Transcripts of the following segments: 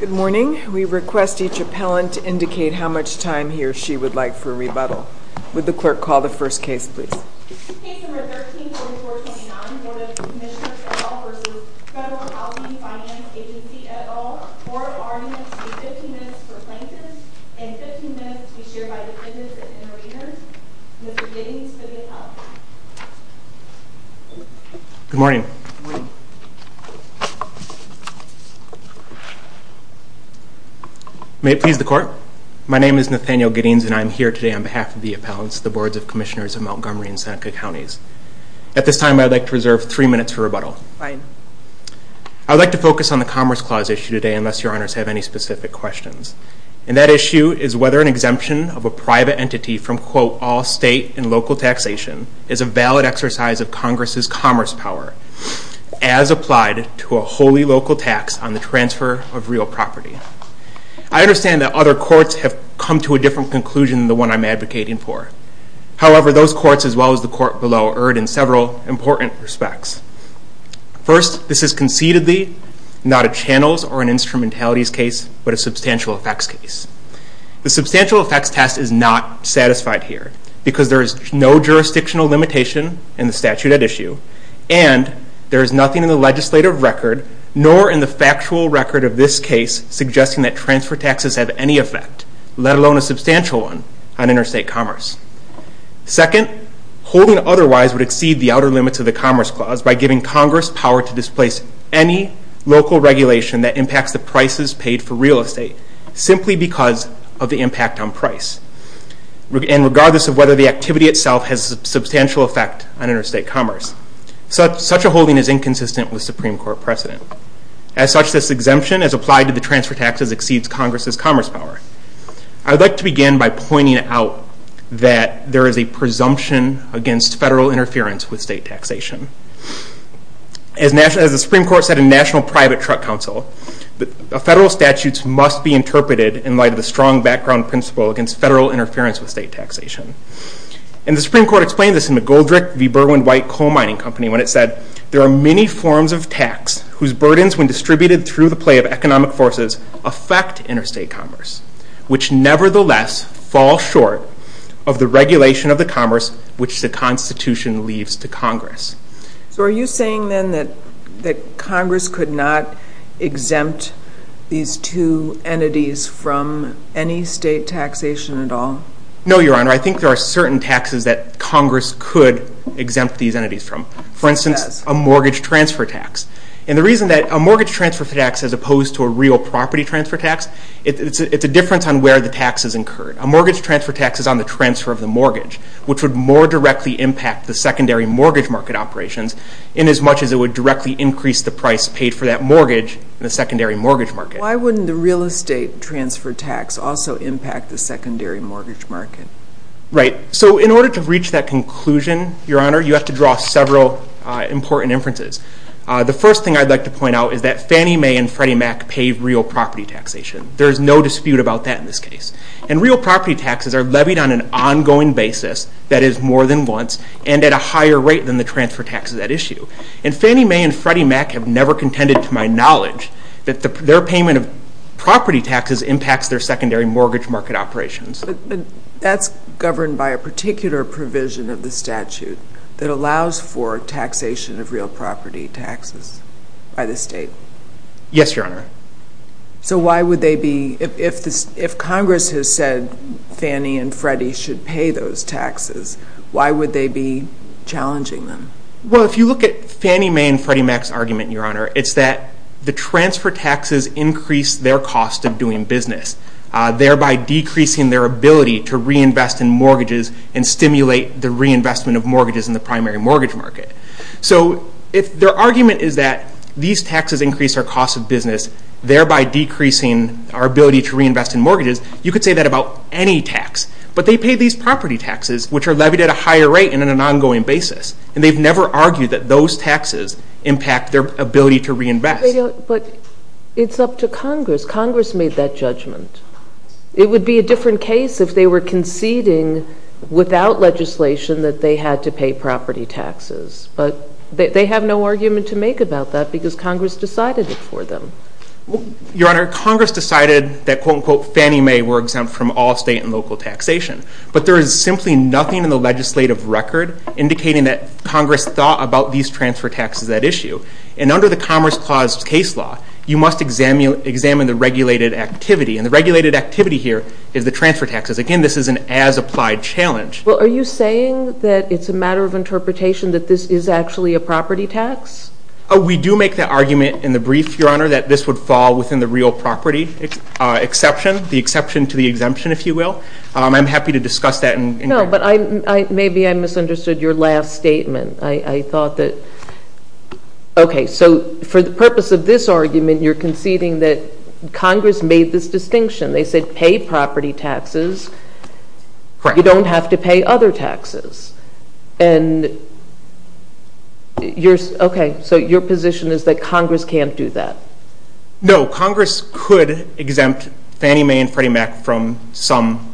Good morning. We request each appellant to indicate how much time he or she would like for rebuttal. Would the clerk call the first case please? Good morning. May it please the court. My name is Nathaniel Giddings and I'm here today on behalf of the appellants, the Boards of Commissioners of Montgomery and Seneca Counties. At this time, I'd like to reserve three minutes for rebuttal. I'd like to focus on the Commerce Clause issue today unless your honors have any specific questions. And that issue is whether an exemption of a private entity from quote all state and local taxation is a valid exercise of Congress's commerce power as applied to a wholly local tax on the transfer of real property. I understand that other courts have come to a different conclusion than the one I'm advocating for. However, those courts, as well as the court below, erred in several important respects. First, this is concededly not a channels or an instrumentalities case, but a substantial effects case. The substantial effects test is not satisfied here because there is no jurisdictional limitation in the statute at issue and there is nothing in the legislative record nor in the factual record of this case suggesting that transfer taxes have any effect, let alone a substantial one, on interstate commerce. Second, holding otherwise would exceed the outer limits of the Commerce Clause by giving Congress power to displace any local regulation that impacts the prices paid for real estate simply because of the impact on price. And regardless of whether the activity itself has a substantial effect on interstate commerce, such a holding is inconsistent with Supreme Court precedent. As such, this exemption as applied to the transfer taxes exceeds Congress's commerce power. I'd like to begin by pointing out that there is a presumption against federal interference with state taxation. As the Supreme Court said in National Private Truck Council, the federal statutes must be interpreted in light of the strong background principle against federal interference with state taxation. And the Supreme Court explained this in the Goldrick v. Berwyn White Coal Mining Company when it said, there are many forms of tax whose burdens when distributed through the play of economic forces affect interstate commerce, which nevertheless fall short of the regulation of the commerce which the Constitution leaves to Congress. So are you saying then that Congress could not exempt these two entities from any state taxation at all? No, Your Honor. I think there are certain taxes that Congress could exempt these entities from. For instance, a mortgage transfer tax. And the reason that a mortgage transfer tax, as opposed to a real property transfer tax, it's a difference on where the tax is incurred. A mortgage transfer tax is on the transfer of the mortgage, which would more directly impact the secondary mortgage market operations in as much as it would directly increase the price paid for that mortgage in the secondary mortgage market. Why wouldn't the real estate transfer tax also impact the secondary mortgage market? Right. So in order to reach that conclusion, Your Honor, you have to draw several important inferences. The first thing I'd like to point out is that Fannie Mae and Freddie Mac paid real property taxation. There is no dispute about that in this case. And real property taxes are levied on an ongoing basis that is more than once and at a higher rate than the transfer taxes at issue. And Fannie Mae and Freddie Mac have never contended to my knowledge that their payment of property taxes impacts their secondary mortgage market operations. That's governed by a particular provision of the statute that allows for taxation of real property taxes by the state. Yes, Your Honor. So why would they be, if Congress has said Fannie and Freddie should pay those taxes, why would they be challenging them? Well, if you look at Fannie Mae and Freddie Mac's argument, Your Honor, it's that the transfer taxes increase their cost of doing business, thereby decreasing their ability to reinvest in mortgages and stimulate the reinvestment of mortgages in the primary thereby decreasing our ability to reinvest in mortgages. You could say that about any tax. But they pay these property taxes, which are levied at a higher rate and on an ongoing basis. And they've never argued that those taxes impact their ability to reinvest. But it's up to Congress. Congress made that judgment. It would be a different case if they were conceding without legislation that they had to pay property taxes. But they have no argument to make about that because Congress decided it for them. Your Honor, Congress decided that, quote, unquote, Fannie Mae were exempt from all state and local taxation. But there is simply nothing in the legislative record indicating that Congress thought about these transfer taxes, that issue. And under the Commerce Clause case law, you must examine the regulated activity. And the regulated activity here is the transfer taxes. Again, this is an as-applied challenge. Well, are you saying that it's a matter of interpretation that this is actually a property tax? We do make the argument in the brief, Your Honor, that this would fall within the real property exception, the exception to the exemption, if you will. I'm happy to discuss that. No, but maybe I misunderstood your last statement. I thought that, okay, so for the purpose of this argument, you're conceding that Congress made this distinction. They said pay property taxes. Correct. You don't have to pay other taxes. Okay, so your position is that Congress can't do that. No, Congress could exempt Fannie Mae and Freddie Mac from some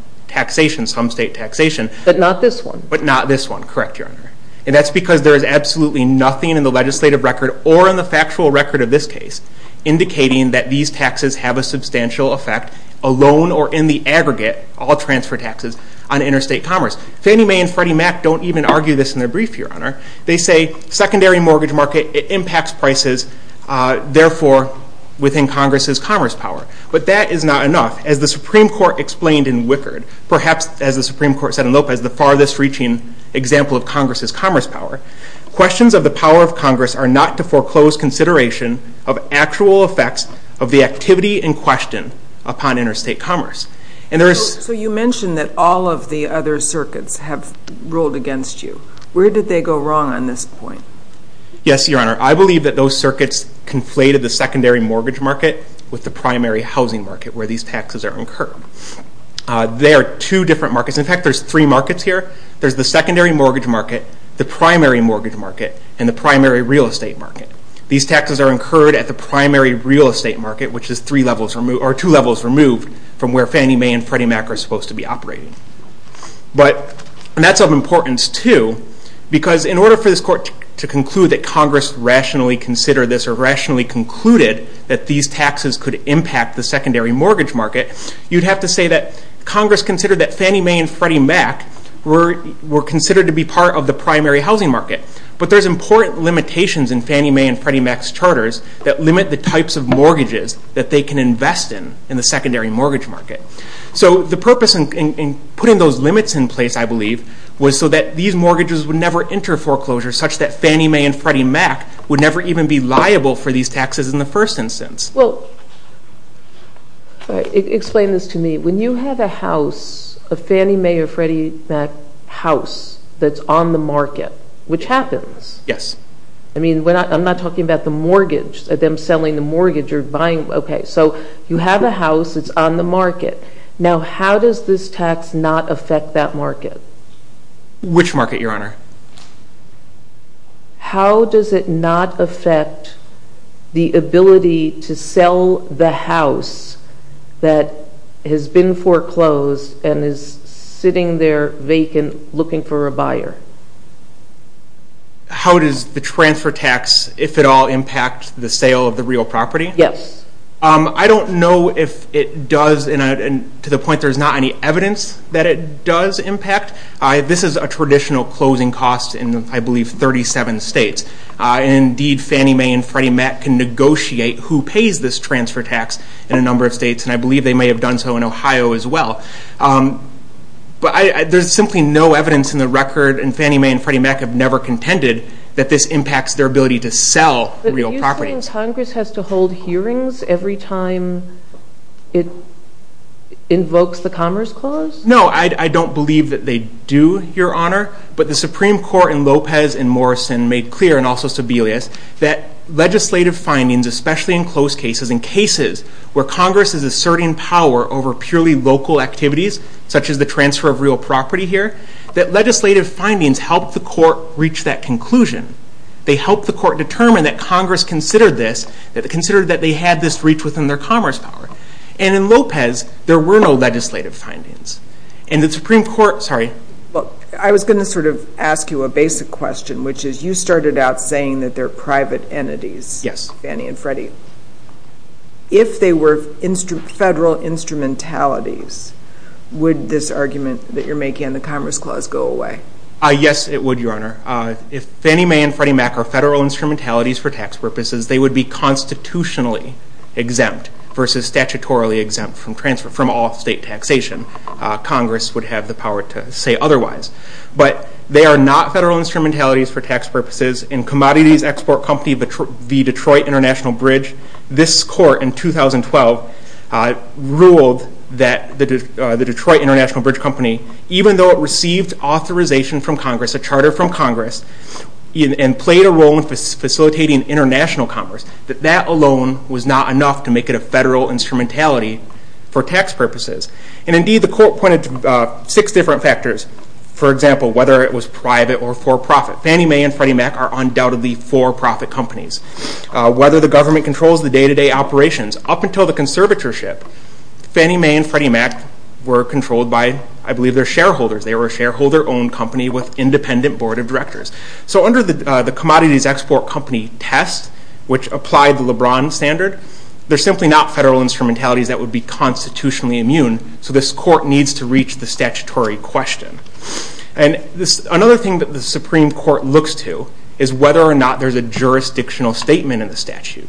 state taxation. But not this one. But not this one. Correct, Your Honor. And that's because there is absolutely nothing in the legislative record or in the factual record of this case indicating that these taxes have a substantial effect alone or in the aggregate, all transfer taxes on interstate commerce. Fannie Mae and Freddie Mac don't even argue this in their brief, Your Honor. They say secondary mortgage market, it impacts prices, therefore, within Congress's commerce power. But that is not enough. As the Supreme Court explained in Wickard, perhaps as the Supreme Court said in Lopez, the farthest reaching example of Congress's commerce power, questions of the power of Congress are not to foreclose consideration of actual effects of activity and question upon interstate commerce. So you mentioned that all of the other circuits have ruled against you. Where did they go wrong on this point? Yes, Your Honor. I believe that those circuits conflated the secondary mortgage market with the primary housing market where these taxes are incurred. They are two different markets. In fact, there's three markets here. There's the secondary mortgage market, the primary mortgage market, and the primary real estate market. These taxes are incurred at the primary real estate market, which is two levels removed from where Fannie Mae and Freddie Mac are supposed to be operating. But that's of importance too, because in order for this Court to conclude that Congress rationally considered this or rationally concluded that these taxes could impact the secondary mortgage market, you'd have to say that Congress considered that Fannie Mae and Freddie Mac were considered to be part of the primary housing market. But there's important limitations in Fannie Mae and Freddie Mac's charters that limit the types of mortgages that they can invest in in the secondary mortgage market. So the purpose in putting those limits in place, I believe, was so that these mortgages would never enter foreclosure such that Fannie Mae and Freddie Mac would never even be liable for these taxes in the first instance. Well, explain this to me. When you have a house, a Fannie Mae or Freddie Mac house that's on the market, which happens? Yes. I mean, I'm not talking about the mortgage, them selling the mortgage or buying. Okay, so you have a house that's on the market. Now, how does this tax not affect that market? Which market, Your Honor? How does it not affect the ability to sell the house that has been mortgaged? How does the transfer tax, if at all, impact the sale of the real property? Yes. I don't know if it does, and to the point there's not any evidence that it does impact. This is a traditional closing cost in, I believe, 37 states. Indeed, Fannie Mae and Freddie Mac can negotiate who pays this transfer tax in a number of states, and I believe they may have done so in never contended that this impacts their ability to sell real property. But do you think Congress has to hold hearings every time it invokes the Commerce Clause? No, I don't believe that they do, Your Honor, but the Supreme Court in Lopez and Morrison made clear, and also Sebelius, that legislative findings, especially in close cases and cases where Congress is asserting power over purely local activities, such as the transfer of real property here, that legislative findings helped the court reach that conclusion. They helped the court determine that Congress considered this, that they considered that they had this reach within their commerce power. And in Lopez, there were no legislative findings. And the Supreme Court, sorry. Look, I was going to sort of ask you a basic question, which is you started out saying that they're private entities. Yes. Fannie and Freddie. If they were federal instrumentalities, would this argument that you're making in the Commerce Clause go away? Yes, it would, Your Honor. If Fannie Mae and Freddie Mac are federal instrumentalities for tax purposes, they would be constitutionally exempt versus statutorily exempt from all state taxation. Congress would have the power to say otherwise. But they are not federal instrumentalities for tax purposes. In Commodities Export Company v. Detroit International Bridge, this court in 2012 ruled that the Detroit International Bridge Company, even though it received authorization from Congress, a charter from Congress, and played a role in facilitating international commerce, that that alone was not enough to make it a federal instrumentality for tax purposes. And indeed, the court pointed to six different factors. For example, whether it was private or for-profit. Fannie Mae and Freddie Mac are undoubtedly for-profit companies. Whether the Fannie Mae and Freddie Mac were controlled by, I believe, their shareholders. They were a shareholder-owned company with independent board of directors. So under the Commodities Export Company test, which applied the LeBron standard, they're simply not federal instrumentalities that would be constitutionally immune. So this court needs to reach the statutory question. And another thing that the Supreme Court looks to is whether or not there's a jurisdictional statement in the statute.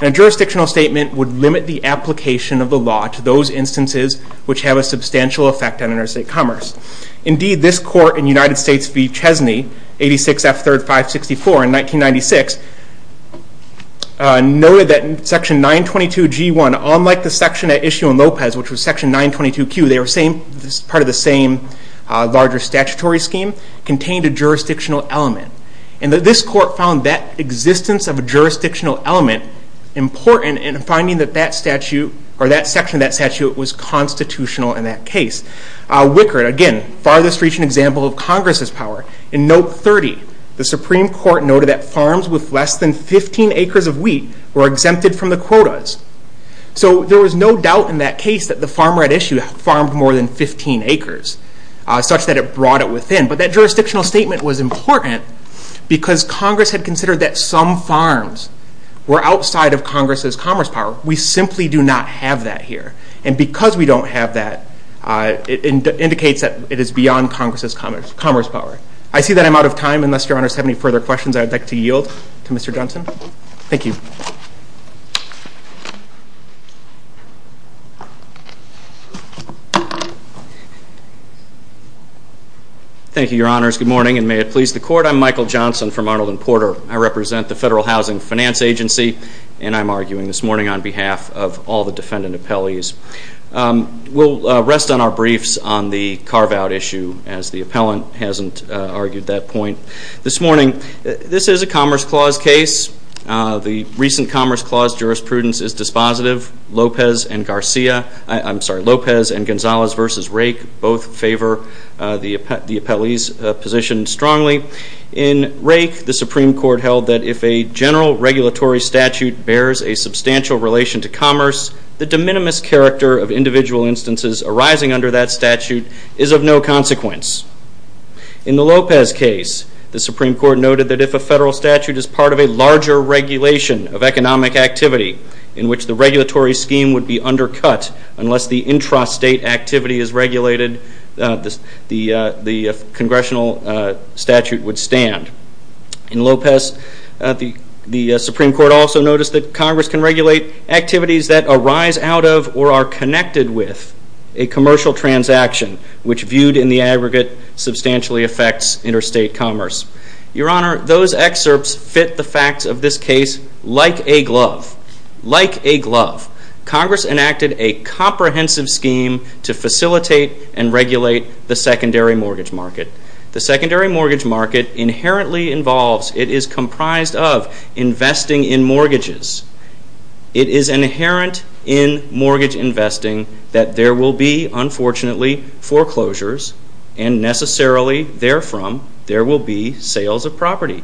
And a jurisdictional statement would limit the application of the law to those instances which have a substantial effect on interstate commerce. Indeed, this court in United States v. Chesney, 86 F. 3rd 564 in 1996, noted that Section 922 G1, unlike the section at issue in Lopez, which was Section 922 Q, they were part of the same larger statutory scheme, contained a jurisdictional element. And this court found that existence of a jurisdictional element important in finding that that statute, or that section of that statute, was constitutional in that case. Wickard, again, farthest reaching example of Congress's power. In Note 30, the Supreme Court noted that farms with less than 15 acres of wheat were exempted from the quotas. So there was no doubt in that case that the farm right issue farmed more than 15 acres, such that it brought it within. But that jurisdictional statement was important because Congress had considered that some farms were outside of Congress's commerce power. We simply do not have that here. And because we don't have that, it indicates that it is beyond Congress's commerce power. I see that I'm out of time, unless your honors have any further questions. Thank you, your honors. Good morning, and may it please the court. I'm Michael Johnson from Arnold and Porter. I represent the Federal Housing Finance Agency, and I'm arguing this morning on behalf of all the defendant appellees. We'll rest on our briefs on the carve-out issue, as the appellant hasn't argued that point. This morning, this is a Commerce Clause case. The recent Commerce Clause jurisprudence is dispositive. Lopez and Garcia, I'm sorry, favor the appellee's position strongly. In Rake, the Supreme Court held that if a general regulatory statute bears a substantial relation to commerce, the de minimis character of individual instances arising under that statute is of no consequence. In the Lopez case, the Supreme Court noted that if a federal statute is part of a larger regulation of economic activity, in which the regulatory scheme would be undercut unless the intrastate activity is regulated, the congressional statute would stand. In Lopez, the Supreme Court also noticed that Congress can regulate activities that arise out of or are connected with a commercial transaction, which viewed in the aggregate substantially affects interstate commerce. Your honor, those excerpts fit the facts of this case like a glove. Congress enacted a comprehensive scheme to facilitate and regulate the secondary mortgage market. The secondary mortgage market inherently involves, it is comprised of, investing in mortgages. It is inherent in mortgage investing that there will be, unfortunately, foreclosures, and necessarily, therefrom, there will be sales of property.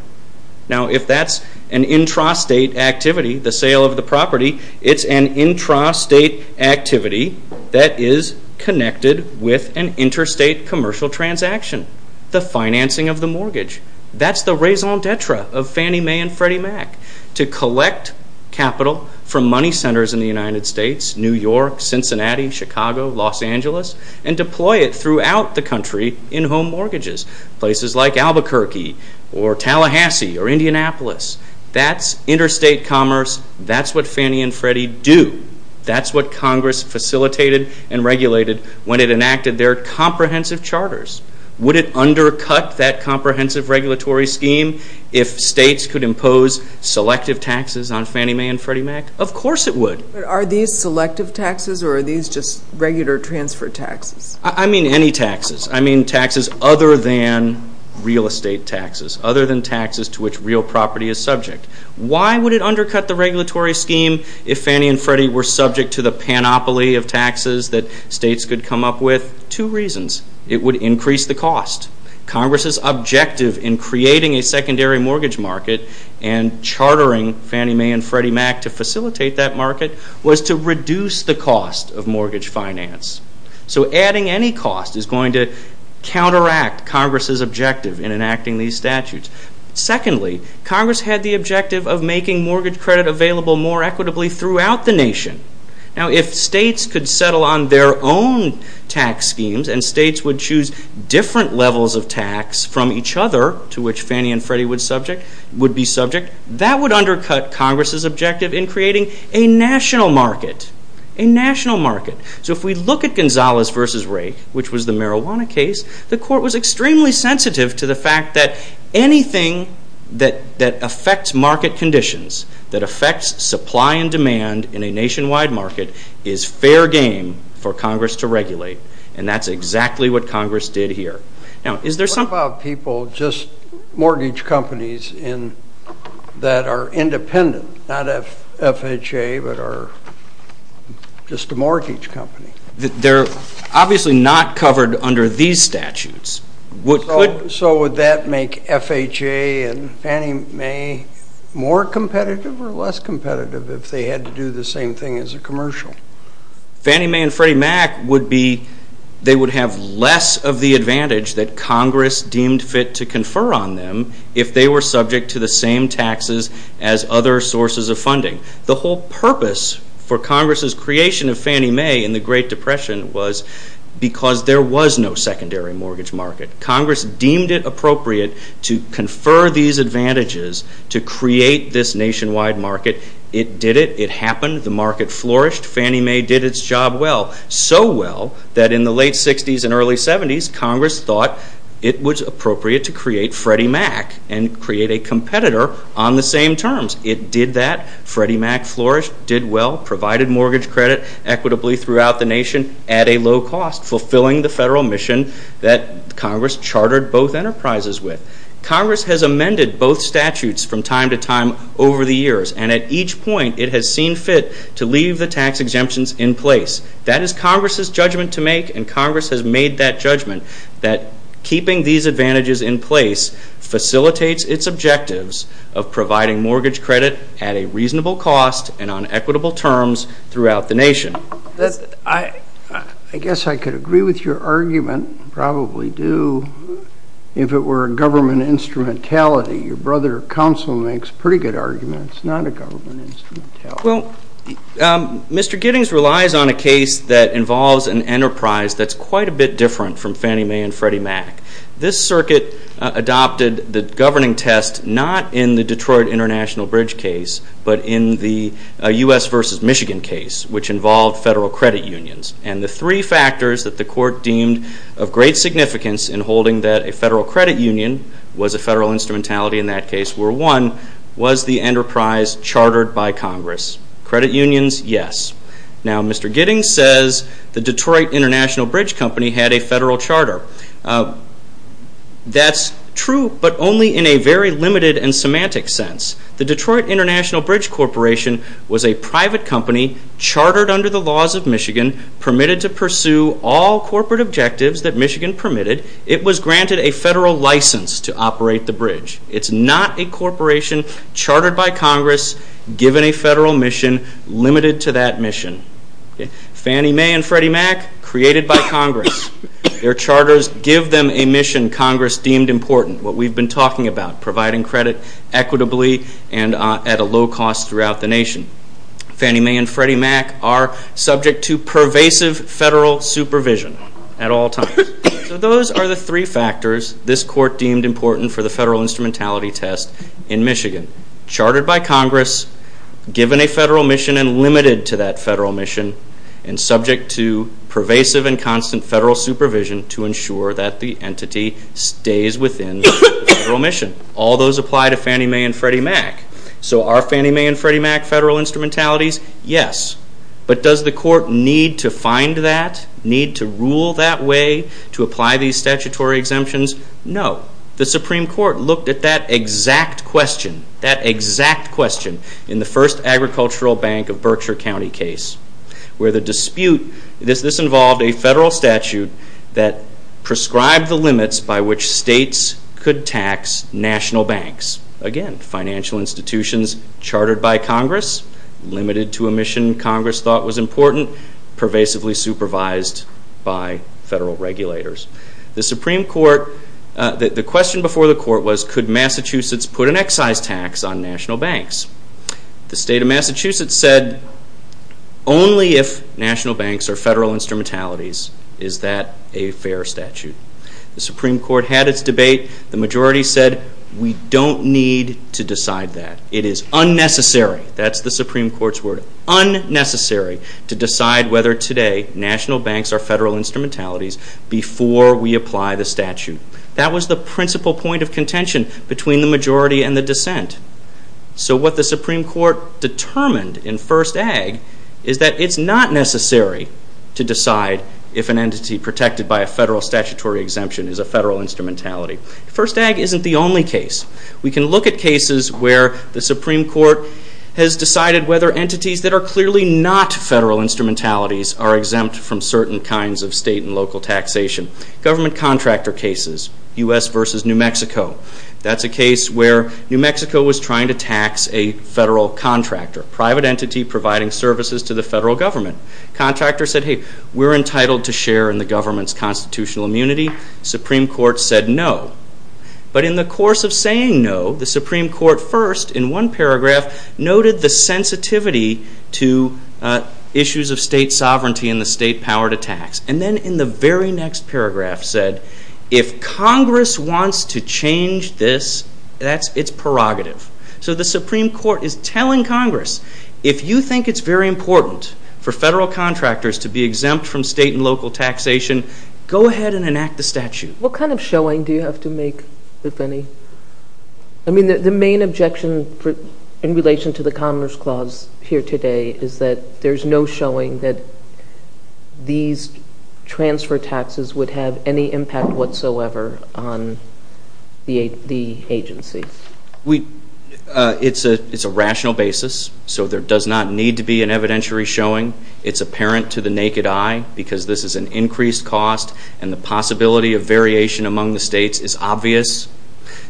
Now, if that's an intrastate activity, the sale of the property, it's an intrastate activity that is connected with an interstate commercial transaction, the financing of the mortgage. That's the raison d'etre of Fannie Mae and Freddie Mac, to collect capital from money centers in the United States, New York, Cincinnati, Chicago, Los Angeles, and deploy it throughout the country in home mortgages, places like Albuquerque or Tallahassee or Indianapolis. That's interstate commerce. That's what Fannie and Freddie do. That's what Congress facilitated and regulated when it enacted their comprehensive charters. Would it undercut that comprehensive regulatory scheme if states could impose selective taxes on Fannie Mae and Freddie Mac? Of course it would. But are these selective taxes or are these just regular transfer taxes? I mean any taxes. I mean taxes other than real estate taxes, other than taxes to which real property is subject. Why would it undercut the regulatory scheme if Fannie and Freddie were subject to the panoply of taxes that states could come up with? Two reasons. It would increase the cost. Congress's objective in creating a secondary mortgage market and chartering Fannie Mae and Freddie Mac to facilitate that market was to reduce the cost of mortgage finance. So adding any cost is going to counteract Congress's objective in enacting these statutes. Secondly, Congress had the objective of making mortgage credit available more equitably throughout the nation. Now if states could settle on their own tax schemes and states would different levels of tax from each other to which Fannie and Freddie would be subject, that would undercut Congress's objective in creating a national market. So if we look at Gonzales v. Rake, which was the marijuana case, the court was extremely sensitive to the fact that anything that affects market conditions, that affects supply and demand in a nationwide market is fair game for Congress to regulate. And that's exactly what Congress did here. What about people, just mortgage companies that are independent, not FHA, but are just a mortgage company? They're obviously not covered under these statutes. So would that make FHA and Fannie Mae more competitive or less competitive if they had to do the same thing as a commercial? Fannie Mae and Freddie Mac would be, they would have less of the advantage that Congress deemed fit to confer on them if they were subject to the same taxes as other sources of funding. The whole purpose for Congress's creation of Fannie Mae in the Great Depression was because there was no secondary mortgage market. Congress deemed it appropriate to confer these advantages to create this Fannie Mae did its job well, so well that in the late 60s and early 70s, Congress thought it was appropriate to create Freddie Mac and create a competitor on the same terms. It did that. Freddie Mac flourished, did well, provided mortgage credit equitably throughout the nation at a low cost, fulfilling the federal mission that Congress chartered both enterprises with. Congress has amended both statutes from time to time over the years. And at each point, it has seen fit to leave the tax exemptions in place. That is Congress's judgment to make, and Congress has made that judgment that keeping these advantages in place facilitates its objectives of providing mortgage credit at a reasonable cost and on equitable terms throughout the nation. I guess I could agree with your argument, probably do, if it were a government instrumentality. Your brother counsel makes pretty good arguments, not a government instrumentality. Well, Mr. Giddings relies on a case that involves an enterprise that's quite a bit different from Fannie Mae and Freddie Mac. This circuit adopted the governing test not in the Detroit International Bridge case, but in the U.S. versus Michigan case, which involved federal credit unions. And the three factors that the court deemed of in that case were one, was the enterprise chartered by Congress? Credit unions, yes. Now, Mr. Giddings says the Detroit International Bridge Company had a federal charter. That's true, but only in a very limited and semantic sense. The Detroit International Bridge Corporation was a private company chartered under the laws of Michigan, permitted to pursue all corporate objectives that Michigan permitted. It was granted a federal license to operate the bridge. It's not a corporation chartered by Congress, given a federal mission, limited to that mission. Fannie Mae and Freddie Mac, created by Congress. Their charters give them a mission Congress deemed important, what we've been talking about, providing credit equitably and at a low cost throughout the nation. Fannie Mae and Freddie Mac are subject to pervasive federal supervision at all times. So those are the three factors this court deemed important for the federal instrumentality test in Michigan. Chartered by Congress, given a federal mission and limited to that federal mission, and subject to pervasive and constant federal supervision to ensure that the entity stays within the federal mission. All those apply to Fannie Mae and Freddie Mac. So are Fannie Mae and Freddie Mac federal instrumentalities? Yes. But does the court need to find that, need to rule that way to apply these statutory exemptions? No. The Supreme Court looked at that exact question, that exact question in the first Agricultural Bank of Berkshire County case, where the dispute, this involved a federal statute that prescribed the limits by which states could tax national banks. Again, financial institutions chartered by Congress, limited to a mission Congress thought was important, pervasively supervised by federal regulators. The Supreme Court, the question before the court was, could Massachusetts put an excise tax on national banks? The state of Massachusetts said, only if national banks are federal instrumentalities is that a fair statute. The Supreme Court had its debate. The majority said, we don't need to decide that. It is unnecessary, that's the principle point of contention between the majority and the dissent. So what the Supreme Court determined in First Ag is that it's not necessary to decide if an entity protected by a federal statutory exemption is a federal instrumentality. First Ag isn't the only are exempt from certain kinds of state and local taxation. Government contractor cases, U.S. versus New Mexico. That's a case where New Mexico was trying to tax a federal contractor, private entity providing services to the federal government. Contractors said, hey, we're entitled to share in the government's constitutional immunity. Supreme Court said no. But in the course of saying no, the Supreme Court first, in one paragraph, noted the sensitivity to issues of state sovereignty and the state power to tax. And then in the very next paragraph said, if Congress wants to change this, it's prerogative. So the Supreme Court is telling Congress, if you think it's very important for federal contractors to be exempt from state and local taxation, go ahead and enact the statute. What kind of showing do you have to make, if any? I mean, the main objection in relation to the Commerce Clause here today is that there's no showing that these transfer taxes would have any impact whatsoever on the agency. We, it's a rational basis. So there does not need to be an evidentiary showing. It's apparent to the naked eye because this is an increased cost and the possibility of variation among the states is obvious.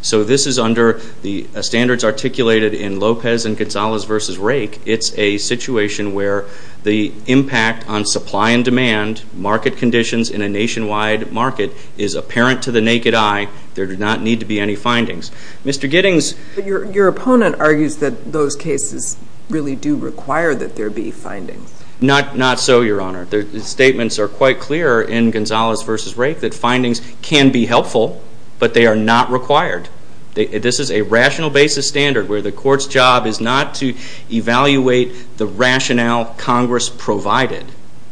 So this is under the standards articulated in Lopez and Gonzalez v. Rake. It's a situation where the impact on supply and demand, market conditions in a nationwide market, is apparent to the naked eye. There do not need to be any findings. Mr. Giddings... But your opponent argues that those cases really do require that there be findings. Not so, Your Honor. The statements are quite clear in Gonzalez v. Rake that findings can be helpful, but they are not required. This is a rational basis standard where the court's job is not to evaluate the rationale Congress provided,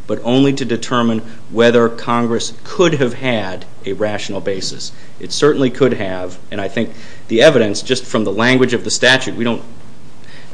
but only to determine whether Congress could have had a rational basis. It certainly could have, and I think the evidence, just from the language of the statute, we don't,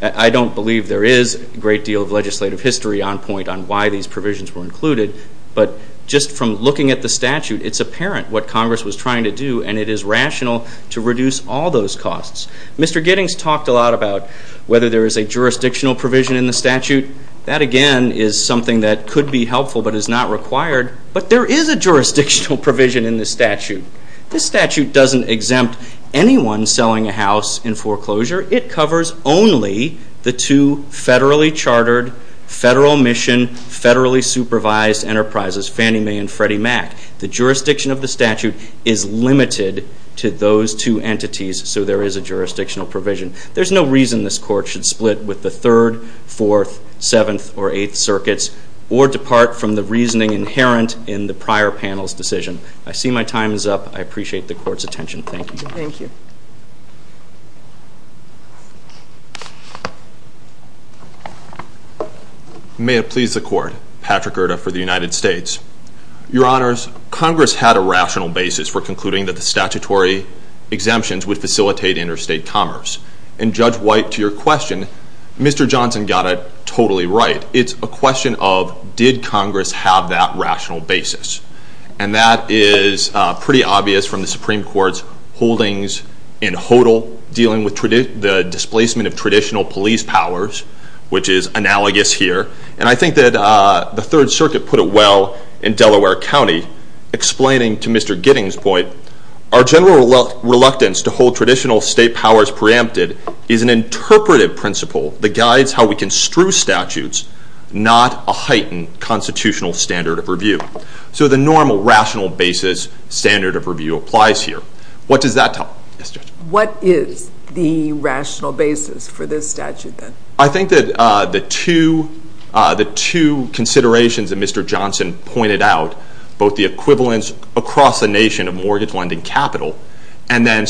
I don't believe there is a great deal of legislative history on point on why these provisions were included, but just from looking at the statute, it's apparent what Congress was trying to do and it is rational to reduce all those costs. Mr. Giddings talked a lot about whether there is a jurisdictional provision in the statute. That again is something that could be helpful but is not required, but there is a jurisdictional provision in the statute. This statute doesn't exempt anyone selling a house in foreclosure. It covers only the two federally chartered, federal mission, federally supervised enterprises, Fannie Mae and Freddie Mac. The jurisdiction of the statute is limited to those two entities, so there is a jurisdictional provision. There is no reason this Court should split with the 3rd, 4th, 7th, or 8th Circuits or depart from the reasoning inherent in the prior panel's decision. I see my time is up. I appreciate the Court's attention. Thank you. May it please the Court. Patrick Erta for the United States. Your Honors, Congress had a rational basis for concluding that the statutory exemptions would facilitate interstate commerce. And Judge White, to your question, Mr. Johnson got it totally right. It's a question of did Congress have that rational basis? And that is pretty obvious from the Supreme Court's holdings in HODL dealing with the displacement of traditional police powers, which is analogous here. And I think that the 3rd Circuit put it well in Delaware County, explaining to Mr. Gidding's point, our general reluctance to hold traditional state powers preempted is an interpretive principle that guides how we construe statutes, not a heightened constitutional standard of review. So the normal rational basis standard of review applies here. What does that tell us, Judge? What is the rational basis for this statute then? I think that the two considerations that Mr. Johnson pointed out, both the equivalence across the nation of mortgage lending capital, and then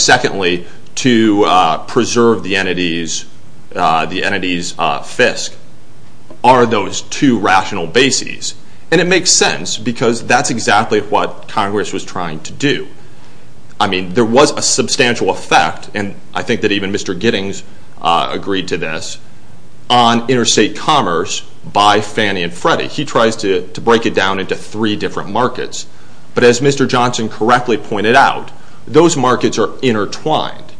it makes sense because that's exactly what Congress was trying to do. I mean, there was a substantial effect, and I think that even Mr. Giddings agreed to this, on interstate commerce by Fannie and Freddie. He tries to break it down into three different markets. But as Mr. Johnson correctly pointed out, those markets are intertwined.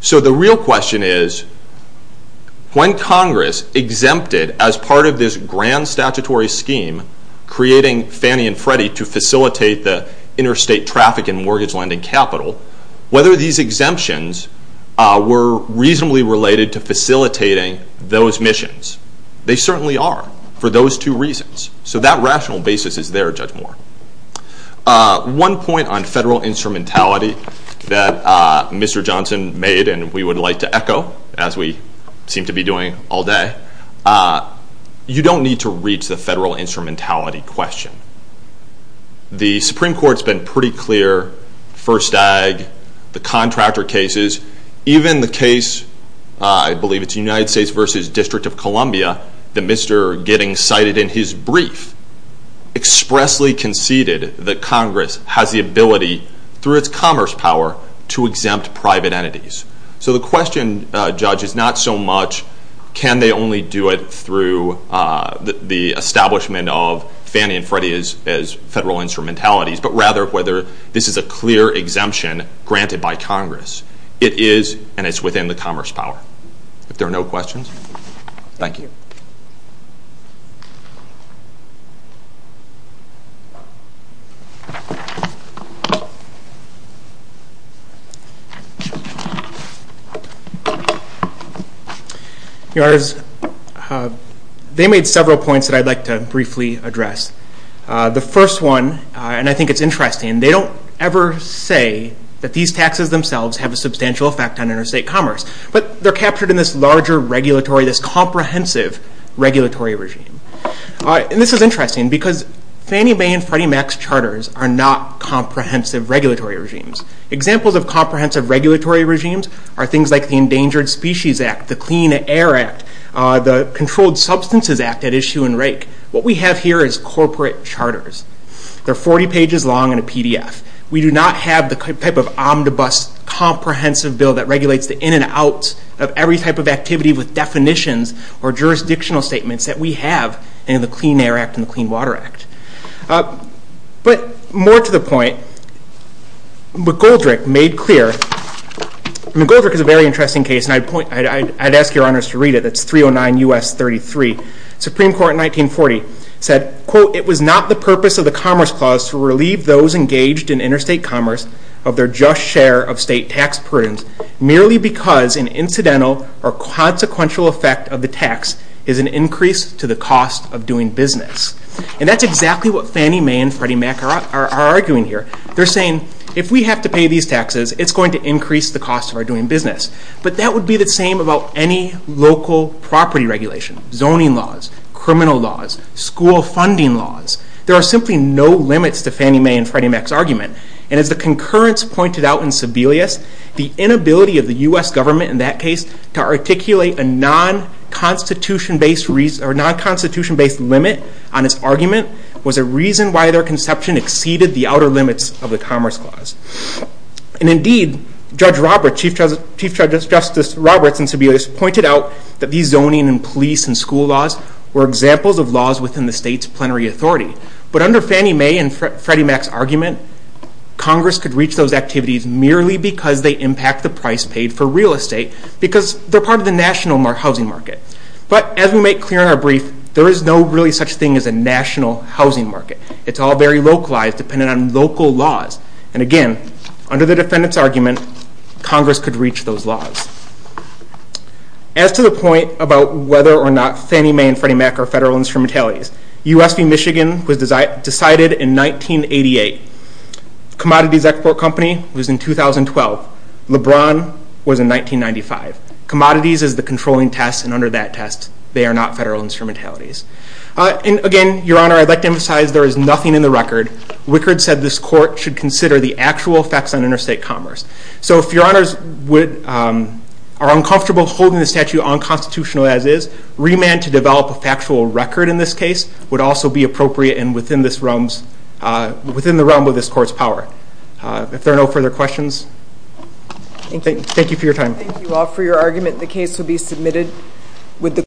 So the real question is, when Congress exempted as part of this grand statutory scheme, creating Fannie and Freddie to facilitate the interstate traffic and mortgage lending capital, whether these exemptions were reasonably related to facilitating those missions. They certainly are, for those two reasons. So that rational basis is there, Judge Moore. One point on federal instrumentality that Mr. Johnson made, and we would like to echo, as we seem to be doing all day, you don't need to reach the federal instrumentality question. The Supreme Court's been pretty clear, First Ag, the contractor cases, even the case, I believe it's United States versus District of Columbia, that Mr. Giddings cited in his brief, expressly conceded that Congress has the ability, through its commerce power, to exempt private entities. So the question, Judge, is not so much can they only do it through the establishment of granted by Congress. It is, and it's within the commerce power. If there are no questions, thank you. Your Honors, they made several points that I'd like to briefly address. The first one, and I think it's interesting, they don't ever say that these taxes themselves have a substantial effect on interstate commerce. But they're captured in this larger regulatory, this comprehensive regulatory regime. And this is interesting, because Fannie Mae and Freddie Mac's charters are not comprehensive regulatory regimes. Examples of comprehensive regulatory regimes are things like the Endangered Species Act, the Clean Air Act, the Controlled Substances Act at issue in Rake. What we have here is corporate charters. They're 40 pages long in a PDF. We do not have the type of omnibus comprehensive bill that regulates the in and outs of every type of activity with definitions or jurisdictional statements that we have in the Clean Air Act and the Clean Water Act. But more to the point, McGoldrick made clear, McGoldrick is a very interesting case, and I'd ask your Honors to read it. It's 309 U.S. 33. Supreme Court in 1940 said, quote, it was not the purpose of the Commerce Clause to relieve those engaged in interstate commerce of their just share of state tax burdens merely because an incidental or consequential effect of the tax is an increase to the cost of doing business. And that's exactly what Fannie Mae and Freddie Mac are arguing here. They're saying, if we have to pay these taxes, it's going to increase the cost of our doing business. But that would be the same about any local property regulation, zoning laws, criminal laws, school funding laws. There are simply no limits to Fannie Mae and Freddie Mac's argument. And as the concurrence pointed out in Sebelius, the inability of the U.S. government in that case to articulate a non-constitution based limit on its argument was a reason why their conception exceeded the outer limits of the Justice Roberts in Sebelius pointed out that these zoning and police and school laws were examples of laws within the state's plenary authority. But under Fannie Mae and Freddie Mac's argument, Congress could reach those activities merely because they impact the price paid for real estate, because they're part of the national housing market. But as we make clear in our brief, there is no really such thing as a national housing market. It's all very localized, dependent on local laws. And again, under the defendant's argument, Congress could reach those laws. As to the point about whether or not Fannie Mae and Freddie Mac are federal instrumentalities, US v. Michigan was decided in 1988. Commodities Export Company was in 2012. LeBron was in 1995. Commodities is the controlling test, and under that test, they are not federal instrumentalities. And again, Your Honor, I'd like to emphasize there is nothing in the record. Wickard said this court should consider the actual effects on interstate commerce. So if Your Honors are uncomfortable holding the statute unconstitutional as is, remand to develop a factual record in this case would also be appropriate and within the realm of this court's power. If there are no further questions, thank you for your time. Thank you all for your argument. The case will be submitted with the